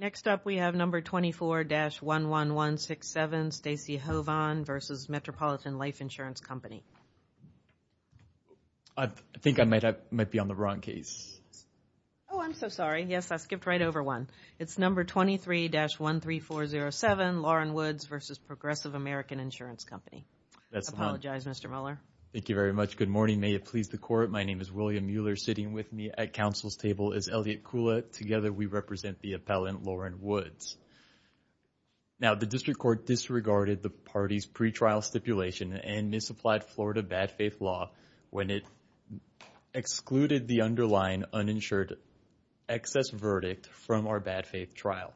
Next up, we have number 24-11167, Stacey Hovahn versus Metropolitan Life Insurance Company. I think I might be on the wrong case. Oh, I'm so sorry. Yes, I skipped right over one. It's number 23-13407, Lauren Woods versus Progressive American Insurance Company. That's the one. I apologize, Mr. Mueller. Thank you very much. Good morning. May it please the court. My name is William Mueller. Sitting with me at counsel's table is Elliott Kula. Together, we represent the appellant, Lauren Woods. Now, the district court disregarded the party's pretrial stipulation and misapplied Florida bad faith law when it excluded the underlying uninsured excess verdict from our bad faith trial.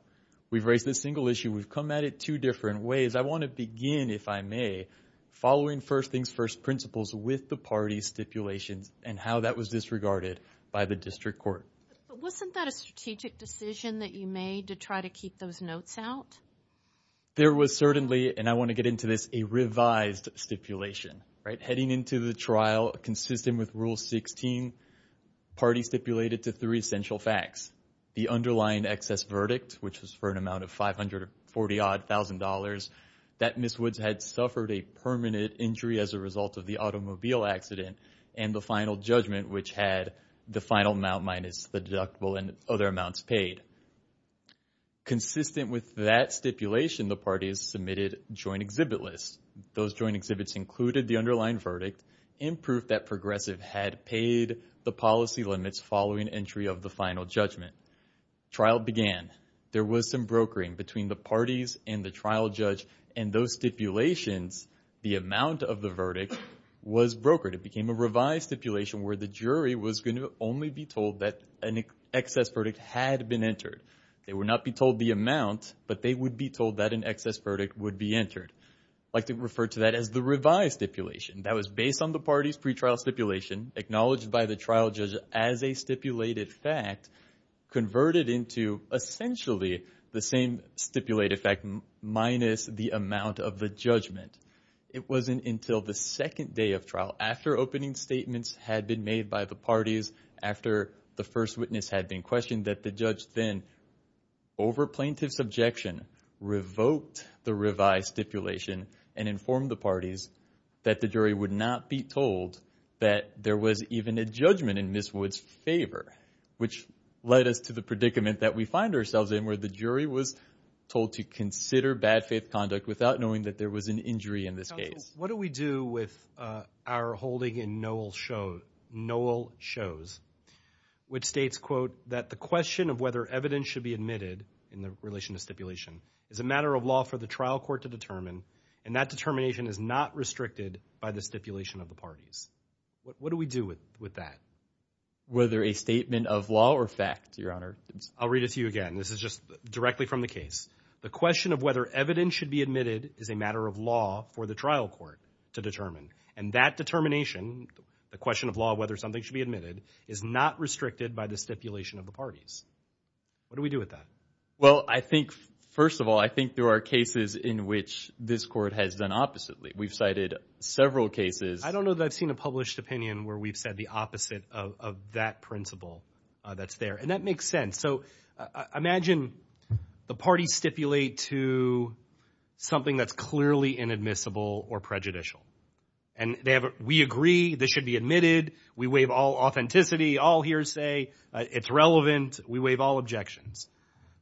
We've raised this single issue. We've come at it two different ways. I want to begin, if I may, following first things first principles with the party's stipulations and how that was disregarded by the district court. Wasn't that a strategic decision that you made to try to keep those notes out? There was certainly, and I want to get into this, a revised stipulation, right? Heading into the trial, consistent with Rule 16, party stipulated to three essential facts. The underlying excess verdict, which was for an amount of $540,000, that Ms. Woods had suffered a permanent injury as a result of the automobile accident and the final judgment, which had the final amount minus the deductible and other amounts paid. Consistent with that stipulation, the parties submitted joint exhibit lists. Those joint exhibits included the underlying verdict and proof that Progressive had paid the policy limits following entry of the final judgment. Trial began. There was some brokering between the parties and the trial judge, and those stipulations, the amount of the verdict, was brokered. It became a revised stipulation where the jury was going to only be told that an excess verdict had been entered. They would not be told the amount, but they would be told that an excess verdict would be entered. I like to refer to that as the revised stipulation. That was based on the parties' pretrial stipulation, acknowledged by the trial judge as a stipulated fact, converted into essentially the same stipulated fact minus the amount of the judgment. It wasn't until the second day of trial, after opening statements had been made by the parties, after the first witness had been questioned, that the judge then, over plaintiff's objection, revoked the revised stipulation and informed the parties that the jury would not be told that there was even a judgment in Ms. Wood's favor, which led us to the predicament that we find ourselves in, where the jury was told to consider bad faith conduct without knowing that there was an injury in this case. What do we do with our holding in Noel Shows, which states, quote, that the question of whether evidence should be admitted in the relation to stipulation is a matter of law for the trial court to determine, and that determination is not restricted by the stipulation of the parties. What do we do with that? Whether a statement of law or fact, Your Honor. I'll read it to you again. This is just directly from the case. The question of whether evidence should be admitted is a matter of law for the trial court to determine, and that determination, the question of law, whether something should be admitted, is not restricted by the stipulation of the parties. What do we do with that? Well, I think, first of all, I think there are cases in which this court has done oppositely. We've cited several cases. I don't know that I've seen a published opinion where we've said the opposite of that principle that's there, and that makes sense. So imagine the parties stipulate to something that's clearly inadmissible or prejudicial, and we agree this should be admitted. We waive all authenticity, all hearsay. It's relevant. We waive all objections.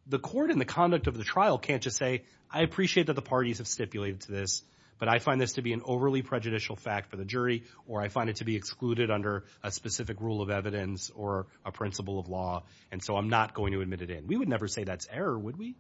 The court in the conduct of the trial can't just say, I appreciate that the parties have stipulated to this, but I find this to be an overly prejudicial fact for the jury, or I find it to be excluded under a specific rule of evidence or a principle of law, and so I'm not going to admit it in. We would never say that's error, would we?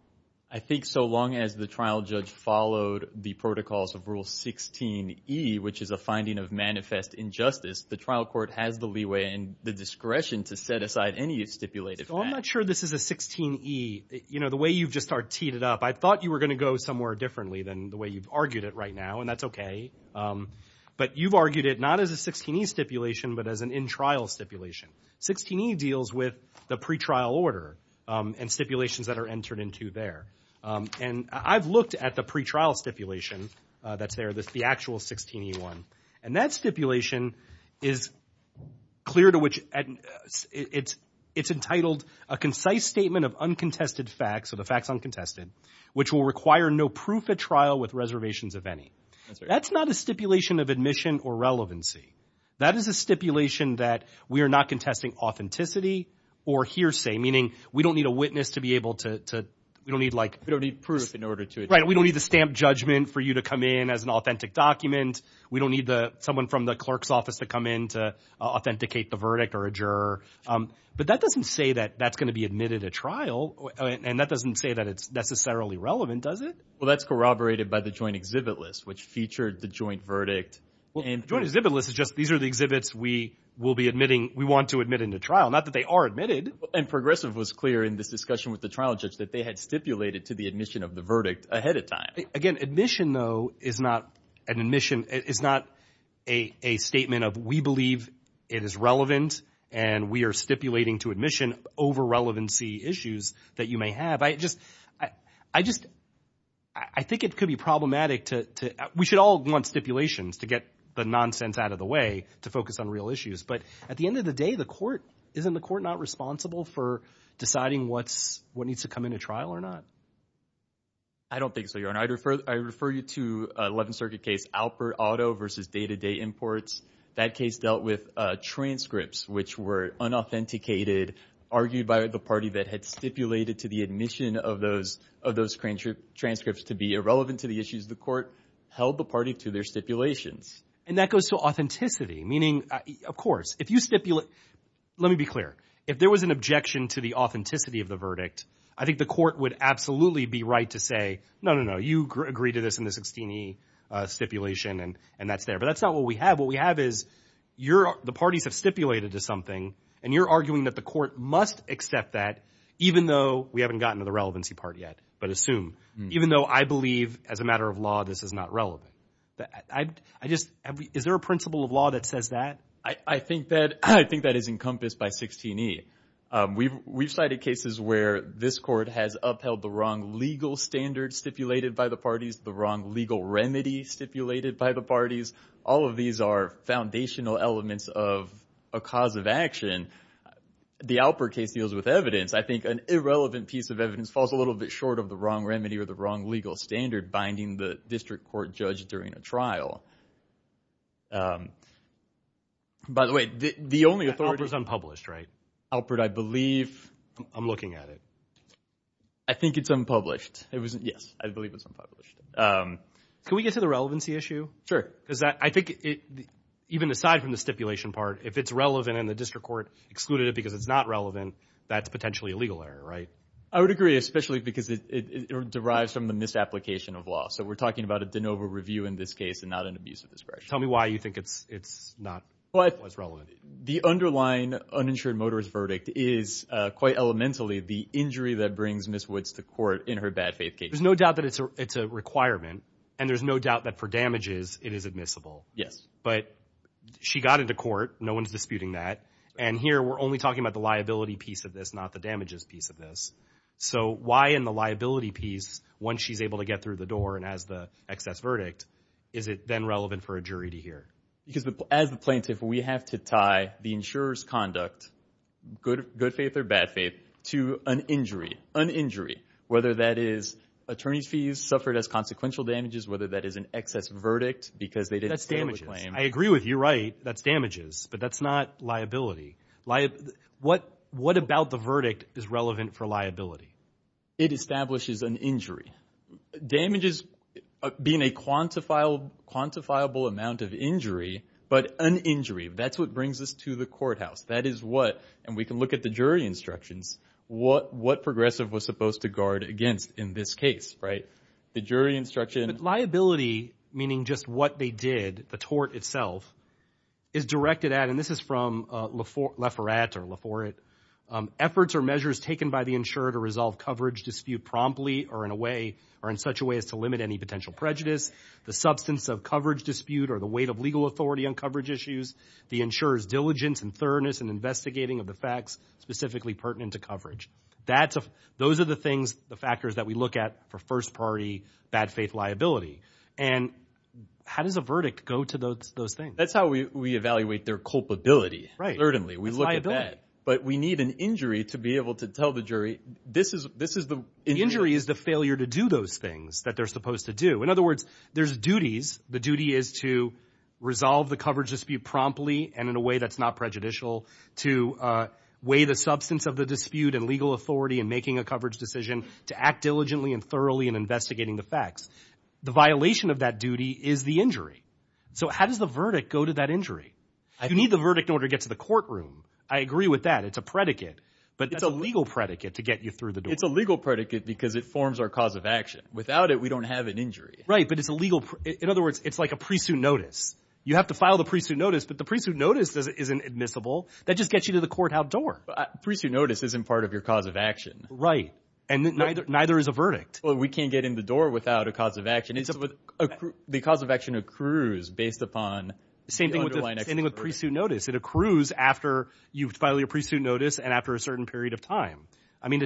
I think so long as the trial judge followed the protocols of Rule 16e, which is a finding of manifest injustice, the trial court has the leeway and the discretion to set aside any stipulated fact. So I'm not sure this is a 16e. You know, the way you've just teed it up, I thought you were going to go somewhere differently than the way you've argued it right now, and that's okay. But you've argued it not as a 16e stipulation, but as an in-trial stipulation. 16e deals with the pretrial order and stipulations that are entered into there. And I've looked at the pretrial stipulation that's there, the actual 16e one, and that stipulation is clear to which it's entitled a concise statement of uncontested facts, so the facts uncontested, which will require no proof at trial with reservations of any. That's not a stipulation of admission or relevancy. That is a stipulation that we are not contesting authenticity or hearsay, meaning we don't need a witness to be able to, we don't need like... We don't need proof in order to... Right, we don't need the stamp judgment for you to come in as an authentic document. We don't need someone from the clerk's office to come in to authenticate the verdict or a juror. But that doesn't say that that's going to be admitted at trial, and that doesn't say that it's necessarily relevant, does it? Well, that's corroborated by the joint exhibit list, which featured the joint verdict. And joint exhibit list is just, these are the exhibits we will be admitting, we want to admit into trial. Not that they are admitted. And Progressive was clear in this discussion with the trial judge that they had stipulated to the admission of the verdict ahead of time. Again, admission, though, is not an admission, is not a statement of, we believe it is relevant and we are stipulating to admission over relevancy issues that you may have. But I just, I just, I think it could be problematic to, we should all want stipulations to get the nonsense out of the way to focus on real issues. But at the end of the day, the court, isn't the court not responsible for deciding what's, what needs to come into trial or not? I don't think so, Your Honor. I refer, I refer you to 11th Circuit case Alpert Auto versus Day-to-Day Imports. That case dealt with transcripts, which were unauthenticated, argued by the party that had stipulated to the admission of those, of those transcripts to be irrelevant to the issues. The court held the party to their stipulations. And that goes to authenticity, meaning, of course, if you stipulate, let me be clear. If there was an objection to the authenticity of the verdict, I think the court would absolutely be right to say, no, no, no, you agree to this in the 16e stipulation and that's there. But that's not what we have. What we have is you're, the parties have stipulated to something and you're arguing that the court must accept that, even though we haven't gotten to the relevancy part yet, but assume, even though I believe as a matter of law, this is not relevant. I just, is there a principle of law that says that? I think that, I think that is encompassed by 16e. We've cited cases where this court has upheld the wrong legal standard stipulated by the parties, the wrong legal remedy stipulated by the parties. All of these are foundational elements of a cause of action. The Alpert case deals with evidence. I think an irrelevant piece of evidence falls a little bit short of the wrong remedy or the wrong legal standard binding the district court judge during a trial. By the way, the only authority. Alpert's unpublished, right? Alpert, I believe. I'm looking at it. I think it's unpublished. It wasn't, yes, I believe it's unpublished. Can we get to the relevancy issue? Sure. Because I think it, even aside from the stipulation part, if it's relevant in the district court, excluded it because it's not relevant, that's potentially a legal error, right? I would agree, especially because it derives from the misapplication of law. So we're talking about a de novo review in this case and not an abuse of discretion. Tell me why you think it's, it's not as relevant. The underlying uninsured motorist verdict is quite elementally the injury that brings Ms. Woods to court in her bad faith case. There's no doubt that it's a, it's a requirement and there's no doubt that for damages, it is admissible. Yes. But she got into court. No one's disputing that. And here we're only talking about the liability piece of this, not the damages piece of this. So why in the liability piece, once she's able to get through the door and has the excess verdict, is it then relevant for a jury to hear? Because as the plaintiff, we have to tie the insurer's conduct, good, good faith or bad faith, to an injury, an injury, whether that is attorney's fees suffered as consequential damages, whether that is an excess verdict because they didn't stand the claim. I agree with you. That's damages, but that's not liability. What, what about the verdict is relevant for liability? It establishes an injury. Damages being a quantifiable, quantifiable amount of injury, but an injury, that's what brings us to the courthouse. That is what, and we can look at the jury instructions, what, what Progressive was supposed to guard against in this case, right? The jury instruction. But liability, meaning just what they did, the tort itself, is directed at, and this is from Lefort, Lefort or Lefort, efforts or measures taken by the insurer to resolve coverage dispute promptly or in a way, or in such a way as to limit any potential prejudice, the substance of coverage dispute or the weight of legal authority on coverage issues, the insurer's diligence and thoroughness and investigating of the facts specifically pertinent to coverage. That's, those are the things, the factors that we look at for first party bad faith liability. And how does a verdict go to those, those things? That's how we, we evaluate their culpability. Right. We look at that, but we need an injury to be able to tell the jury, this is, this is the injury is the failure to do those things that they're supposed to do. In other words, there's duties. The duty is to resolve the coverage dispute promptly and in a way that's not prejudicial to weigh the substance of the dispute and legal authority and making a coverage decision to act diligently and thoroughly and investigating the facts. The violation of that duty is the injury. So how does the verdict go to that injury? You need the verdict in order to get to the courtroom. I agree with that. It's a predicate, but it's a legal predicate to get you through the door. It's a legal predicate because it forms our cause of action. Without it, we don't have an injury. Right. But it's a legal, in other words, it's like a pre-suit notice. You have to file the pre-suit notice, but the pre-suit notice isn't admissible. That just gets you to the court outdoor. Pre-suit notice isn't part of your cause of action. Right. And neither, neither is a verdict. Well, we can't get in the door without a cause of action. It's with the cause of action accrues based upon the underlying. Same thing with pre-suit notice. It accrues after you file your pre-suit notice. And after a certain period of time, I mean,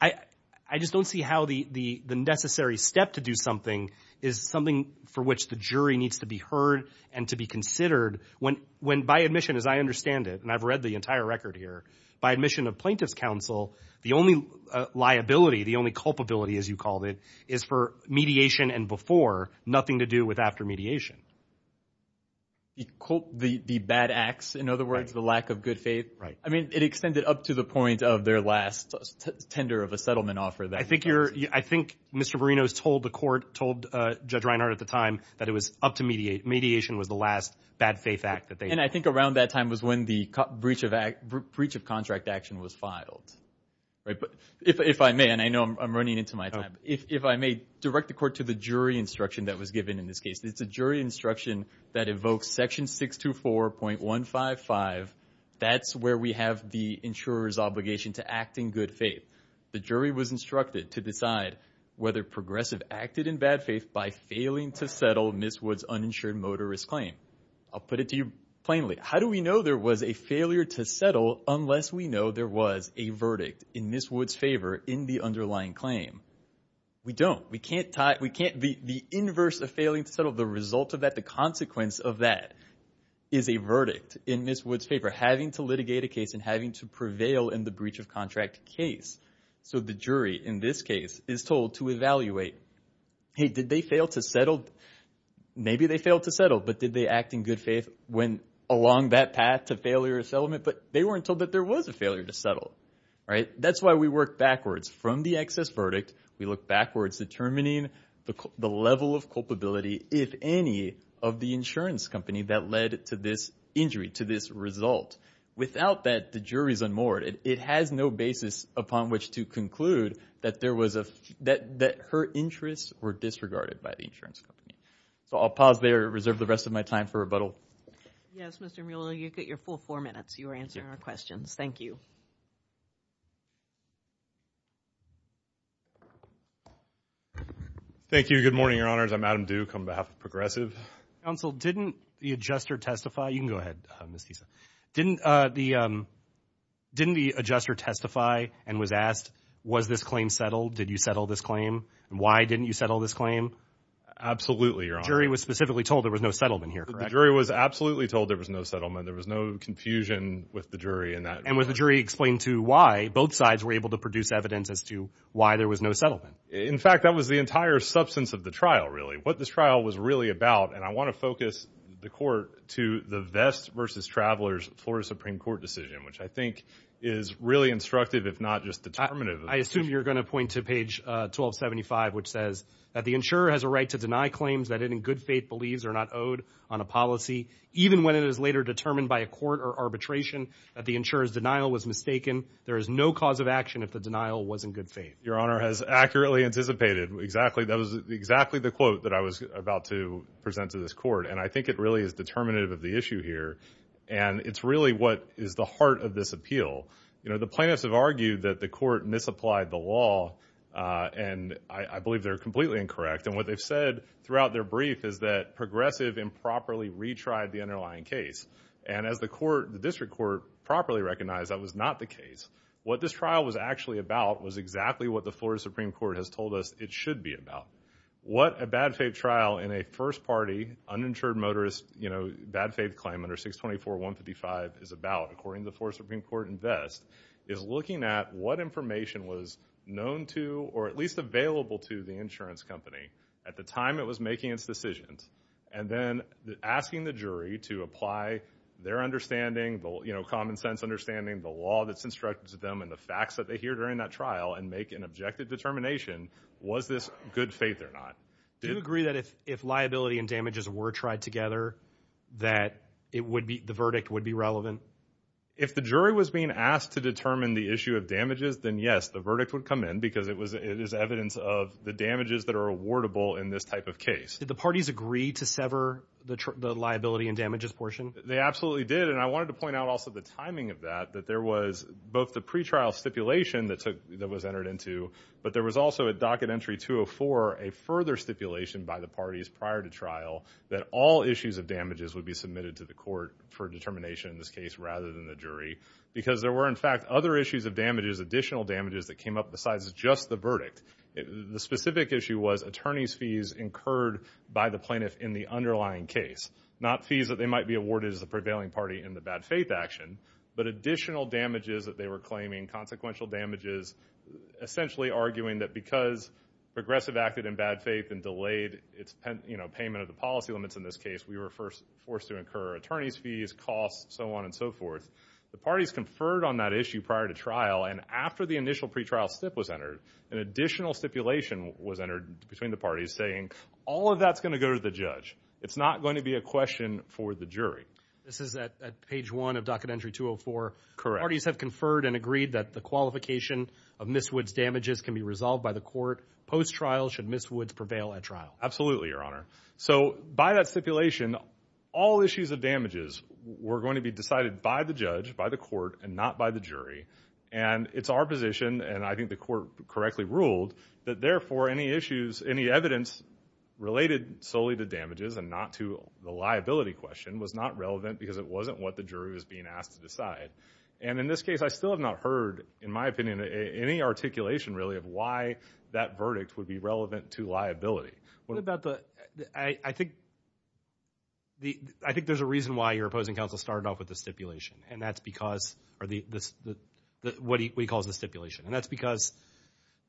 I just don't see how the, the, the necessary step to do something is something for which the jury needs to be heard and to be considered when, when by admission, as I understand it, and I've read the entire record here by admission of plaintiff's counsel, the only liability, the only culpability, as you called it, is for mediation and before nothing to do with after mediation. You quote the, the bad acts, in other words, the lack of good faith. Right. I mean, it extended up to the point of their last tender of a settlement offer. I think you're, I think Mr. Marino's told the court, told Judge Reinhart at the time that it was up to mediate, mediation was the last bad faith act that they had. And I think around that time was when the breach of act, breach of contract action was filed, right? If, if I may, and I know I'm running into my time, if, if I may direct the court to the jury instruction that was given in this case, it's a jury instruction that evokes section 624.155, that's where we have the insurer's obligation to act in good faith. The jury was instructed to decide whether progressive acted in bad faith by failing to settle Ms. Wood's uninsured motorist claim. I'll put it to you plainly. How do we know there was a failure to settle unless we know there was a verdict in Ms. Wood's favor in the underlying claim? We don't. We can't tie, we can't, the inverse of failing to settle, the result of that, the consequence of that is a verdict in Ms. Wood's favor, having to litigate a case and having to prevail in the breach of contract case. So the jury in this case is told to evaluate, hey, did they fail to settle? Maybe they failed to settle, but did they act in good faith when along that path to failure of settlement? But they weren't told that there was a failure to settle, right? That's why we work backwards from the excess verdict, we look backwards determining the level of culpability, if any, of the insurance company that led to this injury, to this result. Without that, the jury's unmoored. It has no basis upon which to conclude that her interests were disregarded by the insurance company. So I'll pause there, reserve the rest of my time for rebuttal. Yes, Mr. Mueller, you get your full four minutes. You were answering our questions. Thank you. Thank you. Good morning, Your Honors. I'm Adam Duke on behalf of Progressive. Counsel, didn't the adjuster testify? You can go ahead, Ms. Kisa. Didn't the adjuster testify and was asked, was this claim settled? Did you settle this claim? Why didn't you settle this claim? Absolutely, Your Honor. The jury was specifically told there was no settlement here, correct? The jury was absolutely told there was no settlement. There was no confusion with the jury in that regard. And was the jury explained to why both sides were able to produce evidence as to why there was no settlement? In fact, that was the entire substance of the trial, really. What this trial was really about, and I want to focus the court to the Vest versus Travelers Florida Supreme Court decision, which I think is really instructive, if not just determinative. I assume you're going to point to page 1275, which says that the insurer has a right to deny claims that it in good faith believes are not owed on a policy, even when it is later determined by a court or arbitration that the insurer has denied or was mistaken. There is no cause of action if the denial was in good faith. Your Honor has accurately anticipated exactly. That was exactly the quote that I was about to present to this court. And I think it really is determinative of the issue here. And it's really what is the heart of this appeal. You know, the plaintiffs have argued that the court misapplied the law, and I believe they're completely incorrect. And what they've said throughout their brief is that Progressive improperly retried the underlying case. And as the court, the district court, properly recognized that was not the What this trial was actually about was exactly what the Florida Supreme Court has told us it should be about. What a bad faith trial in a first party, uninsured motorist, you know, bad faith claim under 624-155 is about, according to the Florida Supreme Court and Vest, is looking at what information was known to, or at least available to, the insurance company at the time it was making its decisions. And then asking the jury to apply their understanding, the common sense understanding, the law that's instructed to them, and the facts that they hear during that trial and make an objective determination, was this good faith or not? Do you agree that if liability and damages were tried together, that it would be, the verdict would be relevant? If the jury was being asked to determine the issue of damages, then yes, the verdict would come in because it was, it is evidence of the damages that are awardable in this type of case. Did the parties agree to sever the liability and damages portion? They absolutely did. And I wanted to point out also the timing of that, that there was both the pretrial stipulation that took, that was entered into, but there was also at docket entry 204, a further stipulation by the parties prior to trial, that all issues of damages would be submitted to the court for determination in this case, rather than the jury, because there were in fact other issues of damages, additional damages that came up besides just the verdict. The specific issue was attorney's fees incurred by the plaintiff in the underlying case, not fees that they might be awarded as the prevailing party in the bad faith action, but additional damages that they were claiming, consequential damages, essentially arguing that because progressive acted in bad faith and delayed its, you know, payment of the policy limits in this case, we were forced to incur attorney's fees, costs, so on and so forth. The parties conferred on that issue prior to trial. And after the initial pretrial stip was entered, an additional stipulation was entered between the parties saying, all of that's going to go to the judge. It's not going to be a question for the jury. This is at page one of docket entry 204. Correct. Parties have conferred and agreed that the qualification of Ms. Wood's damages can be resolved by the court post-trial should Ms. Woods prevail at trial. Absolutely, your honor. So by that stipulation, all issues of damages were going to be decided by the judge, by the court and not by the jury. And it's our position, and I think the court correctly ruled, that therefore any issues, any evidence related solely to damages and not to the liability question was not relevant because it wasn't what the jury was being asked to And in this case, I still have not heard, in my opinion, any articulation really of why that verdict would be relevant to liability. What about the, I think the, I think there's a reason why your opposing counsel started off with the stipulation. And that's because, or the, what he calls the stipulation. And that's because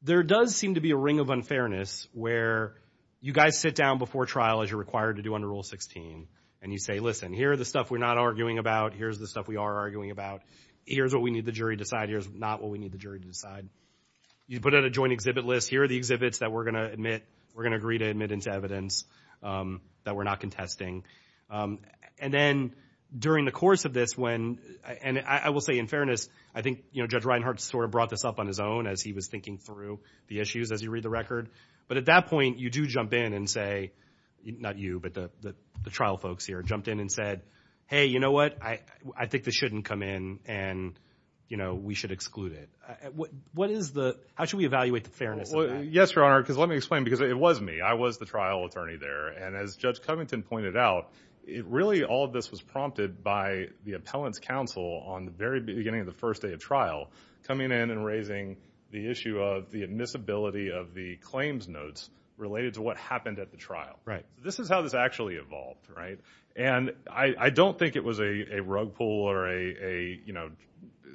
there does seem to be a ring of unfairness where you guys sit down before trial as you're required to do under rule 16 and you say, listen, here are the stuff we're not arguing about. Here's the stuff we are arguing about. Here's what we need the jury to decide. Here's not what we need the jury to decide. You put out a joint exhibit list. Here are the exhibits that we're going to admit, we're going to agree to admit into evidence that we're not contesting. And then during the course of this, when, and I will say in fairness, I think, you know, Judge Reinhart sort of brought this up on his own as he was thinking through the issues as you read the record, but at that point you do jump in and say, not you, but the, the trial folks here jumped in and said, hey, you know what, I, I think this shouldn't come in and you know, we should exclude it. What, what is the, how should we evaluate the fairness of that? Well, yes, Your Honor, because let me explain because it was me. I was the trial attorney there. And as Judge Covington pointed out, it really, all of this was prompted by the appellant's counsel on the very beginning of the first day of trial, coming in and raising the issue of the admissibility of the claims notes related to what happened at the trial, right? This is how this actually evolved, right? And I, I don't think it was a rug pull or a, a, you know,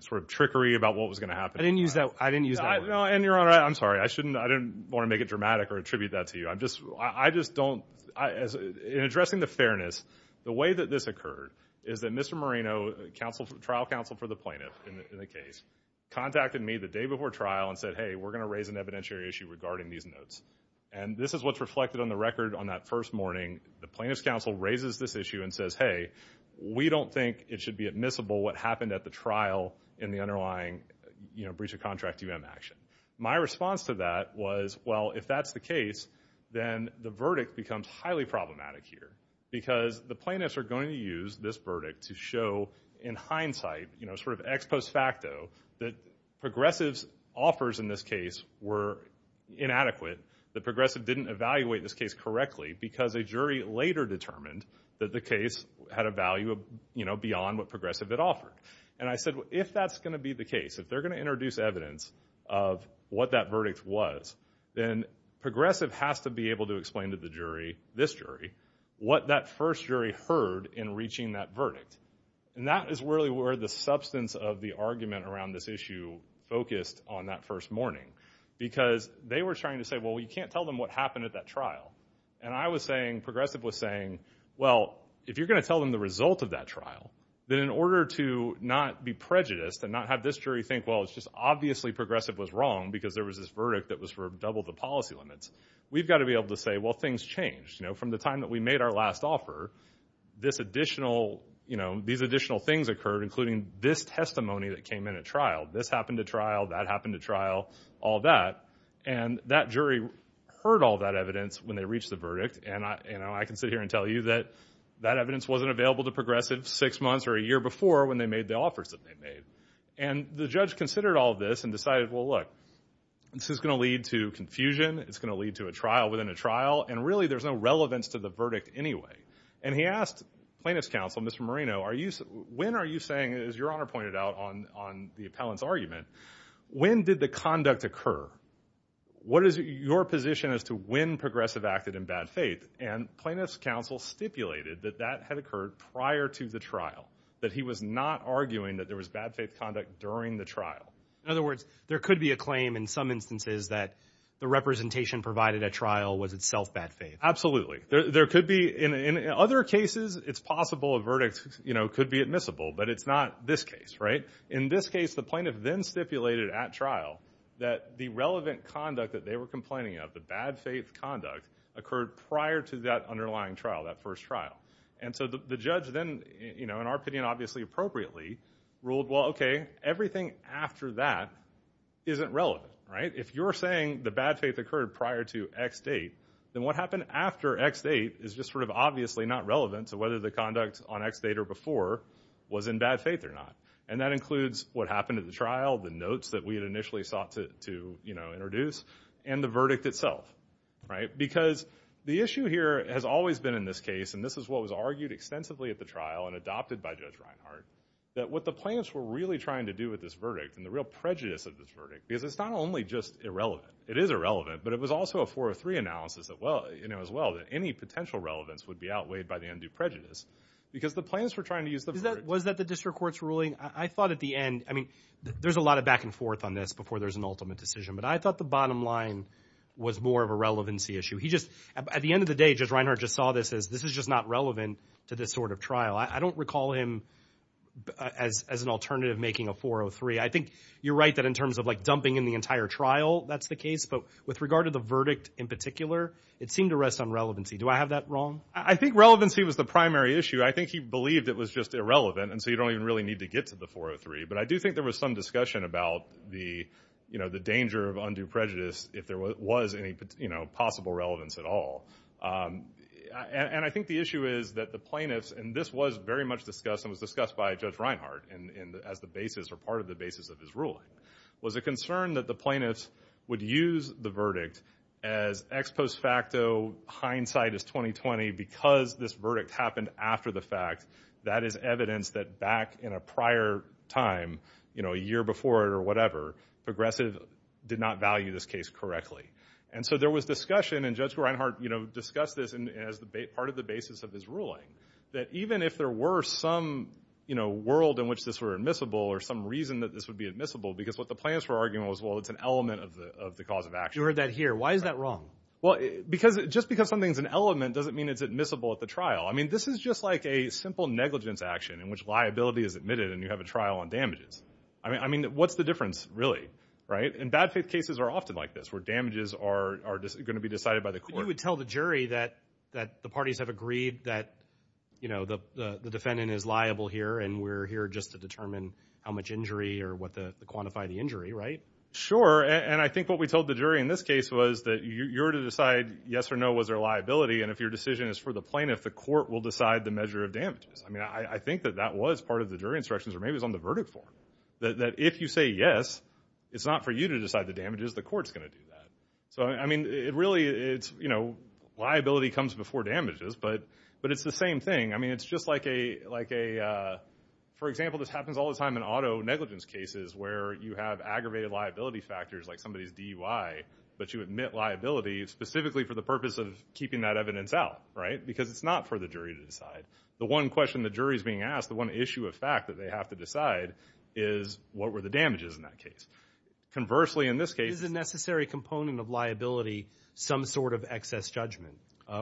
sort of trickery about what was going to happen. I didn't use that. I didn't use that. And Your Honor, I'm sorry. I shouldn't, I didn't want to make it dramatic or attribute that to you. I'm just, I just don't, I, as, in addressing the fairness, the way that this occurred is that Mr. Moreno, counsel, trial counsel for the plaintiff in the case, contacted me the day before trial and said, hey, we're going to raise an evidentiary issue regarding these notes, and this is what's reflected on the record on that first morning, the plaintiff's counsel raises this issue and says, hey, we don't think it should be admissible what happened at the trial in the underlying, you know, breach of contract UM action. My response to that was, well, if that's the case, then the verdict becomes highly problematic here because the plaintiffs are going to use this verdict to show in hindsight, you know, sort of ex post facto that progressive's offers in this case were inadequate. The progressive didn't evaluate this case correctly because a jury later determined that the case had a value of, you know, beyond what progressive had offered, and I said, if that's going to be the case, if they're going to introduce evidence of what that verdict was, then progressive has to be able to explain to the jury, this jury, what that first jury heard in reaching that verdict. And that is really where the substance of the argument around this issue focused on that first morning, because they were trying to say, well, you can't tell them what happened at that trial. And I was saying, progressive was saying, well, if you're going to tell them the result of that trial, then in order to not be prejudiced and not have this jury think, well, it's just obviously progressive was wrong because there was this verdict that was for double the policy limits, we've got to be able to say, well, things changed, you know, from the time that we made our last offer, this additional, you know, these additional things occurred, including this testimony that came in at trial, this happened at trial, that happened at trial, all that. And that jury heard all that evidence when they reached the verdict. And I, you know, I can sit here and tell you that that evidence wasn't available to progressive six months or a year before when they made the offers that they made. And the judge considered all of this and decided, well, look, this is going to lead to confusion. It's going to lead to a trial within a trial. And really there's no relevance to the verdict anyway. And he asked plaintiff's counsel, Mr. Marino, are you, when are you saying, as your honor pointed out on, on the appellant's argument, when did the conduct occur? What is your position as to when progressive acted in bad faith? And plaintiff's counsel stipulated that that had occurred prior to the trial, that he was not arguing that there was bad faith conduct during the trial. In other words, there could be a claim in some instances that the representation provided at trial was itself bad faith. There, there could be in other cases, it's possible a verdict, you know, could be admissible, but it's not this case, right? In this case, the plaintiff then stipulated at trial that the relevant conduct that they were complaining of, the bad faith conduct occurred prior to that underlying trial, that first trial. And so the judge then, you know, in our opinion, obviously appropriately ruled, well, okay, everything after that isn't relevant, right? If you're saying the bad faith occurred prior to X date, then what happened after X date is just sort of obviously not relevant to whether the conduct on X date or before was in bad faith or not. And that includes what happened at the trial, the notes that we had initially sought to, to, you know, introduce and the verdict itself, right? Because the issue here has always been in this case, and this is what was argued extensively at the trial and adopted by Judge Reinhardt, that what the plaintiffs were really trying to do with this verdict and the real prejudice of this verdict, because it's not only just irrelevant, it is irrelevant, but it was also a 403 analysis that well, you know, as well that any potential relevance would be outweighed by the undue prejudice because the plaintiffs were trying to use the verdict. Was that the district court's ruling? I thought at the end, I mean, there's a lot of back and forth on this before there's an ultimate decision, but I thought the bottom line was more of a relevancy issue. He just, at the end of the day, Judge Reinhardt just saw this as, this is just not relevant to this sort of trial. I don't recall him as, as an alternative making a 403. I think you're right that in terms of like dumping in the entire trial, that's the case, but with regard to the verdict in particular, it seemed to rest on relevancy. Do I have that wrong? I think relevancy was the primary issue. I think he believed it was just irrelevant. And so you don't even really need to get to the 403, but I do think there was some discussion about the, you know, the danger of undue prejudice if there was any, you know, possible relevance at all. And I think the issue is that the plaintiffs, and this was very much discussed and was discussed by Judge Reinhardt as the basis or part of the basis of his ruling, was a concern that the plaintiffs would use the verdict as ex post facto hindsight is 2020 because this verdict happened after the fact, that is evidence that back in a prior time, you know, a year before it or whatever, Progressive did not value this case correctly. And so there was discussion and Judge Reinhardt, you know, discussed this and as the part of the basis of his ruling, that even if there were some, you know, world in which this were admissible or some reason that this would be admissible, because what the plans were arguing was, well, it's an element of the, of the cause of action. You heard that here. Why is that wrong? Well, because just because something's an element doesn't mean it's admissible at the trial. I mean, this is just like a simple negligence action in which liability is admitted and you have a trial on damages. I mean, I mean, what's the difference really, right? And bad faith cases are often like this, where damages are going to be decided by the court. You would tell the jury that, that the parties have agreed that, you know, the defendant is liable here and we're here just to determine how much injury or what the quantify the injury, right? Sure. And I think what we told the jury in this case was that you're to decide yes or no, was there liability? And if your decision is for the plaintiff, the court will decide the measure of damages. I mean, I think that that was part of the jury instructions or maybe it was on the verdict form. That, that if you say yes, it's not for you to decide the damages, the court's going to do that. So, I mean, it really, it's, you know, liability comes before damages, but, but it's the same thing. I mean, it's just like a, like a for example, this happens all the time in auto negligence cases where you have aggravated liability factors, like somebody's DUI, but you admit liability specifically for the purpose of keeping that evidence out, right? Because it's not for the jury to decide. The one question the jury's being asked, the one issue of fact that they have to decide is what were the damages in that case? Conversely, in this case, is a necessary component of liability, some sort of excess judgment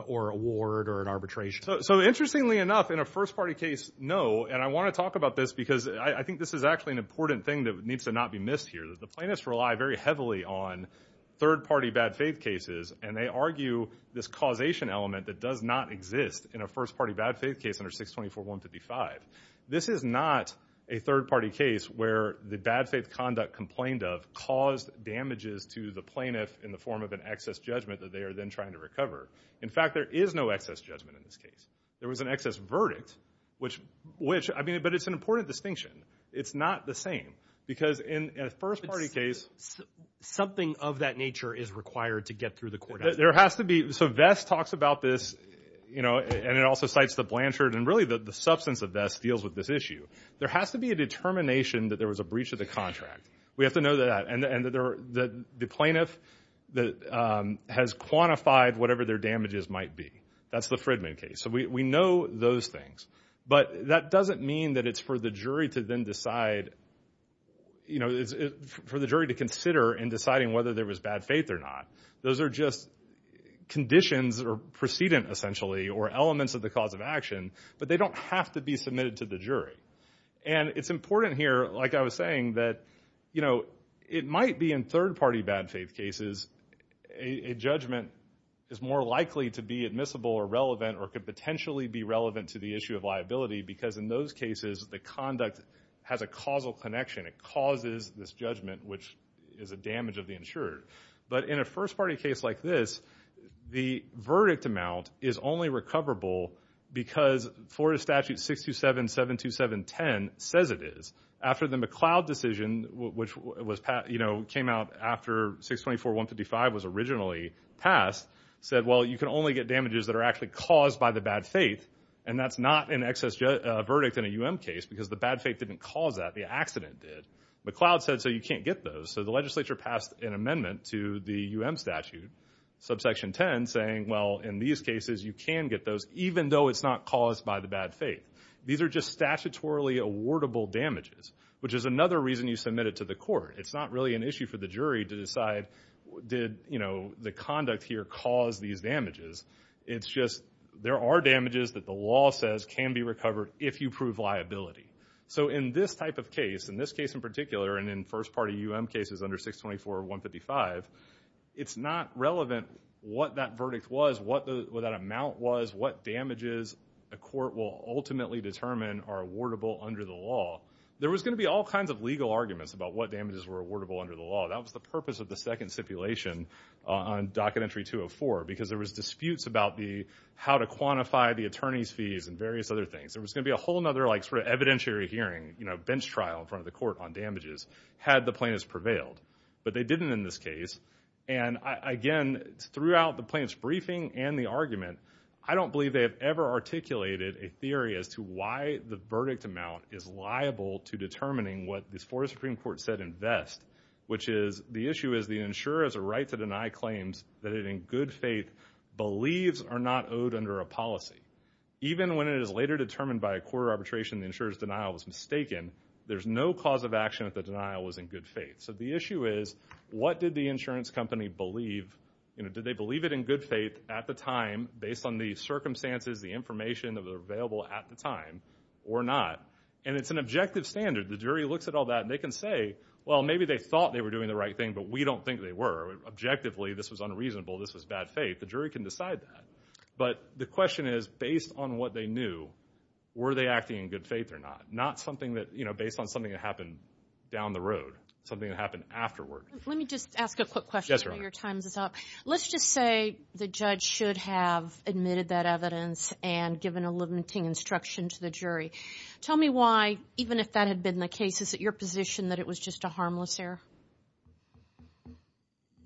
or award or an arbitration. So interestingly enough in a first party case, no. And I want to talk about this because I think this is actually an important thing that needs to not be missed here that the plaintiffs rely very heavily on third party bad faith cases. And they argue this causation element that does not exist in a first party bad faith case under 624-155. This is not a third party case where the bad faith conduct complained of caused damages to the plaintiff in the form of an excess judgment that they are then trying to recover. In fact, there is no excess judgment in this case. There was an excess verdict, which, which, I mean, but it's an important distinction. It's not the same because in a first party case. Something of that nature is required to get through the court. There has to be, so Vest talks about this, you know, and it also cites the Blanchard and really the substance of Vest deals with this issue. There has to be a determination that there was a breach of the contract. We have to know that. And the plaintiff has quantified whatever their damages might be. That's the Fridman case. So we know those things, but that doesn't mean that it's for the jury to then decide, you know, for the jury to consider in deciding whether there was bad faith or not. Those are just conditions or precedent essentially, or elements of the cause of action, but they don't have to be submitted to the jury. And it's important here, like I was saying that, you know, it might be in third party bad faith cases, a judgment is more likely to be admissible or relevant, or could potentially be relevant to the issue of liability. Because in those cases, the conduct has a causal connection. It causes this judgment, which is a damage of the insurer. But in a first party case like this, the verdict amount is only recoverable because Florida statute 627.727.10 says it is. After the McLeod decision, which was, you know, came out after 624.155 was originally passed, said, well, you can only get damages that are actually caused by the bad faith. And that's not an excess verdict in a UM case because the bad faith didn't cause that, the accident did. McLeod said, so you can't get those. So the legislature passed an amendment to the UM statute, subsection 10, saying, well, in these cases, you can get those, even though it's not caused by the bad faith. These are just statutorily awardable damages, which is another reason you submit it to the court. It's not really an issue for the jury to decide, did, you know, the conduct here cause these damages? It's just, there are damages that the law says can be recovered if you prove liability. So in this type of case, in this case in particular, and in first party UM cases under 624.155, it's not relevant what that verdict was, what that amount was, what damages a court will ultimately determine are awardable under the law. There was going to be all kinds of legal arguments about what damages were awardable under the law. That was the purpose of the second stipulation on docket entry 204, because there was disputes about the, how to quantify the attorney's fees and various other things. There was going to be a whole nother like sort of evidentiary hearing, you know, bench trial in front of the court on damages. Had the plaintiffs prevailed, but they didn't in this case. And I, again, throughout the plaintiff's briefing and the argument, I don't believe they have ever articulated a theory as to why the verdict amount is liable to determining what this Forest Supreme Court said invest, which is the issue is the insurer has a right to deny claims that it in good faith believes are not owed under a policy, even when it is later determined by a court arbitration, the insurer's denial was mistaken. There's no cause of action that the denial was in good faith. So the issue is what did the insurance company believe? You know, did they believe it in good faith at the time, based on the circumstances, the information that were available at the time or not? And it's an objective standard. The jury looks at all that and they can say, well, maybe they thought they were doing the right thing, but we don't think they were objectively. This was unreasonable. This was bad faith. The jury can decide that. But the question is based on what they knew, were they acting in good faith or not, not something that, you know, based on something that happened down the road, something that happened afterward, let me just ask a quick question, your time's up, let's just say the judge should have admitted that evidence and given a limiting instruction to the jury. Tell me why, even if that had been the case, is it your position that it was just a harmless error?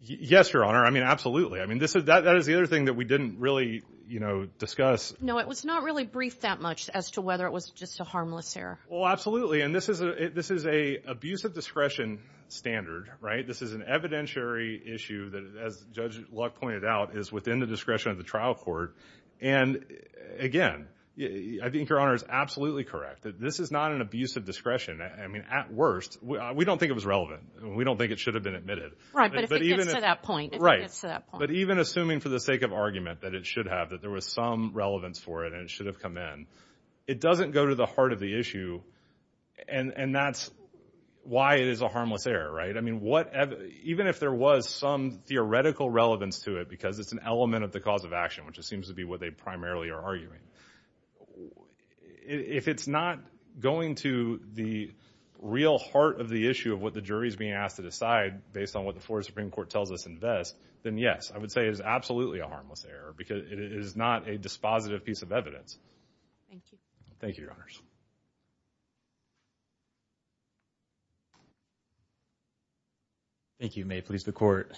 Yes, Your Honor. I mean, absolutely. I mean, this is that, that is the other thing that we didn't really, you know, discuss, no, it was not really brief that much as to whether it was just a harmless error. Well, absolutely. And this is a, this is a abuse of discretion standard, right? This is an evidentiary issue that as Judge Luck pointed out is within the discretion of the trial court. And again, I think Your Honor is absolutely correct that this is not an abuse of discretion. I mean, at worst, we don't think it was relevant and we don't think it should have been admitted. Right. But even at that point, but even assuming for the sake of argument that it should have, that there was some relevance for it and it should have come in, it doesn't go to the heart of the issue and that's why it is a harmless error, right? I mean, what, even if there was some theoretical relevance to it, because it's an element of the cause of action, which it seems to be what they primarily are arguing, if it's not going to the real heart of the issue of what the jury's being asked to decide based on what the Florida Supreme Court tells us in Vest, then yes, I would say it is absolutely a harmless error because it is not a dispositive piece of evidence. Thank you. Thank you, Your Honors. Thank you. May it please the court.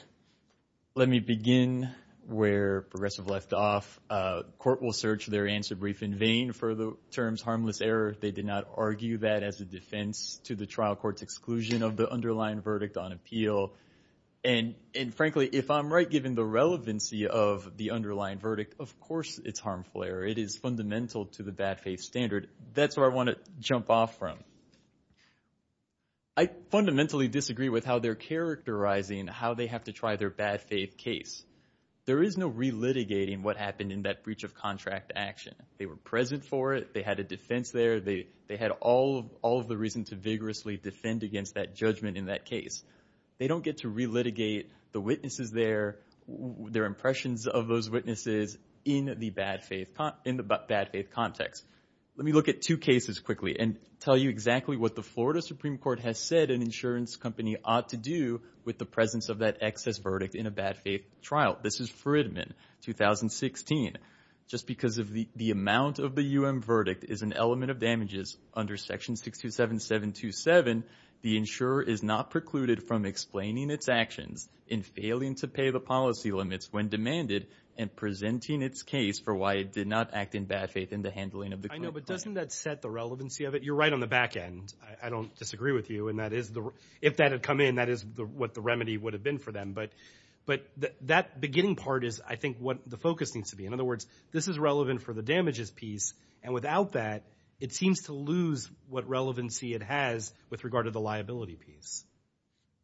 Let me begin where progressive left off. A court will search their answer brief in vain for the terms harmless error. They did not argue that as a defense to the trial court's exclusion of the underlying verdict on appeal. And, and frankly, if I'm right, given the relevancy of the underlying verdict, of course it's harmful error. It is fundamental to the bad faith standard. That's where I want to jump off from. I fundamentally disagree with how they're characterizing how they have to try their bad faith case. There is no re-litigating what happened in that breach of contract action. They were present for it. They had a defense there. They, they had all of, all of the reason to vigorously defend against that judgment in that case. They don't get to re-litigate the witnesses there, their impressions of those witnesses in the bad faith, in the bad faith context. Let me look at two cases quickly and tell you exactly what the Florida Supreme Court has said an insurance company ought to do with the presence of that excess verdict in a bad faith trial. This is Fridman, 2016. Just because of the, the amount of the UM verdict is an element of damages under section 627727, the insurer is not precluded from explaining its actions in failing to pay the policy limits when demanded and presenting its case for why it did not act in bad faith in the handling of the court. I know, but doesn't that set the relevancy of it? You're right on the back end. I don't disagree with you. And that is the, if that had come in, that is the, what the remedy would have been for them. But, but that beginning part is I think what the focus needs to be. In other words, this is relevant for the damages piece. And without that, it seems to lose what relevancy it has with regard to the liability piece.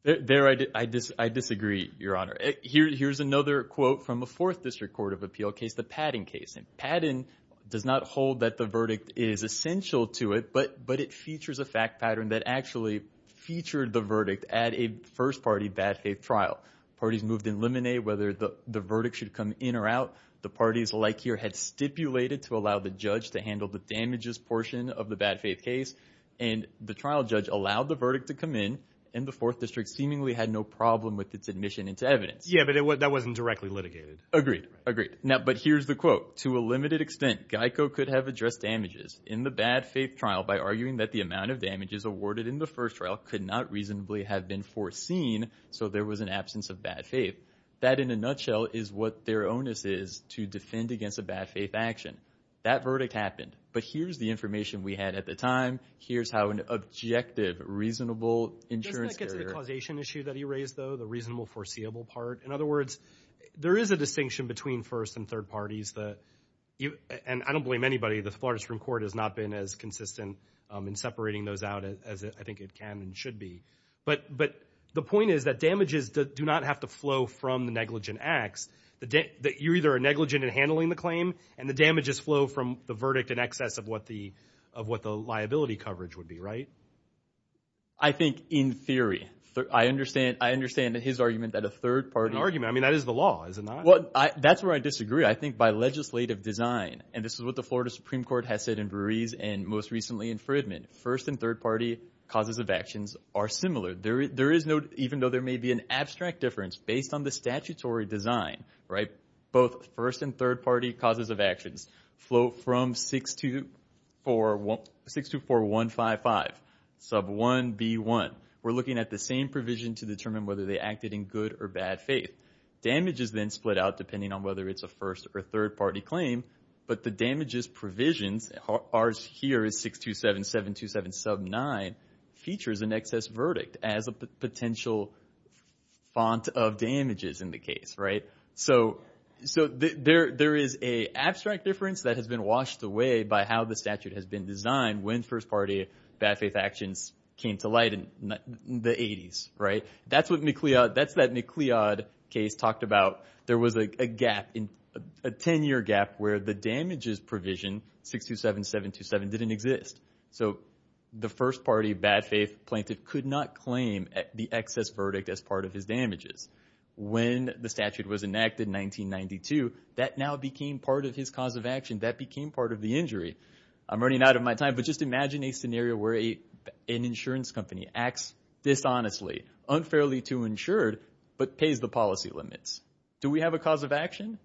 There, I disagree, Your Honor. Here, here's another quote from a fourth district court of appeal case, the Padden case. And Padden does not hold that the verdict is essential to it, but it features a fact pattern that actually featured the verdict at a first party bad faith trial. Parties moved in limine whether the verdict should come in or out. The parties like here had stipulated to allow the judge to handle the damages portion of the bad faith case. And the trial judge allowed the verdict to come in and the fourth district seemingly had no problem with its admission into evidence. Yeah, but it wasn't, that wasn't directly litigated. Agreed. Agreed. Now, but here's the quote, to a limited extent, GEICO could have addressed damages in the bad faith trial by arguing that the amount of damages awarded in the first trial could not reasonably have been foreseen. So there was an absence of bad faith. That in a nutshell is what their onus is to defend against a bad faith action. That verdict happened, but here's the information we had at the time, here's how an objective, reasonable insurance. Doesn't that get to the causation issue that he raised though, the reasonable foreseeable part. In other words, there is a distinction between first and third parties that you, and I don't blame anybody. The Florida Supreme Court has not been as consistent in separating those out as I think it can and should be. But, but the point is that damages do not have to flow from the negligent acts, that you either are negligent in handling the claim and the damages flow from the verdict in excess of what the, of what the liability coverage would be. Right. I think in theory, I understand, I understand that his argument that a third party argument, I mean, that is the law, is it not? Well, I, that's where I disagree. I think by legislative design, and this is what the Florida Supreme Court has said in Ruiz and most recently in Fridman, first and third party causes of actions are similar. There, there is no, even though there may be an abstract difference based on the statutory design, right? Both first and third party causes of actions flow from 624, 624-155, sub 1B1. We're looking at the same provision to determine whether they acted in good or bad faith. Damages then split out depending on whether it's a first or third party claim, but the damages provisions, ours here is 627-727-sub 9, features an excess verdict as a potential font of damages in the case, right? So, so there, there is a abstract difference that has been washed away by how the statute has been designed when first party bad faith actions came to light in the eighties, right? That's what McLeod, that's that McLeod case talked about. There was a gap in, a 10 year gap where the damages provision 627-727 didn't exist. So the first party bad faith plaintiff could not claim the excess verdict as part of his damages. When the statute was enacted in 1992, that now became part of his cause of action that became part of the injury, I'm running out of my time, but just imagine a scenario where a, an insurance company acts dishonestly, unfairly to insured, but pays the policy limits. Do we have a cause of action?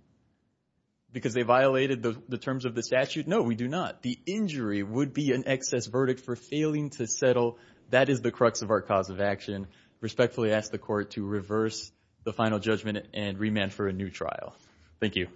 Because they violated the terms of the statute? No, we do not. The injury would be an excess verdict for failing to settle. That is the crux of our cause of action. Respectfully ask the court to reverse the final judgment and remand for a new trial. Thank you.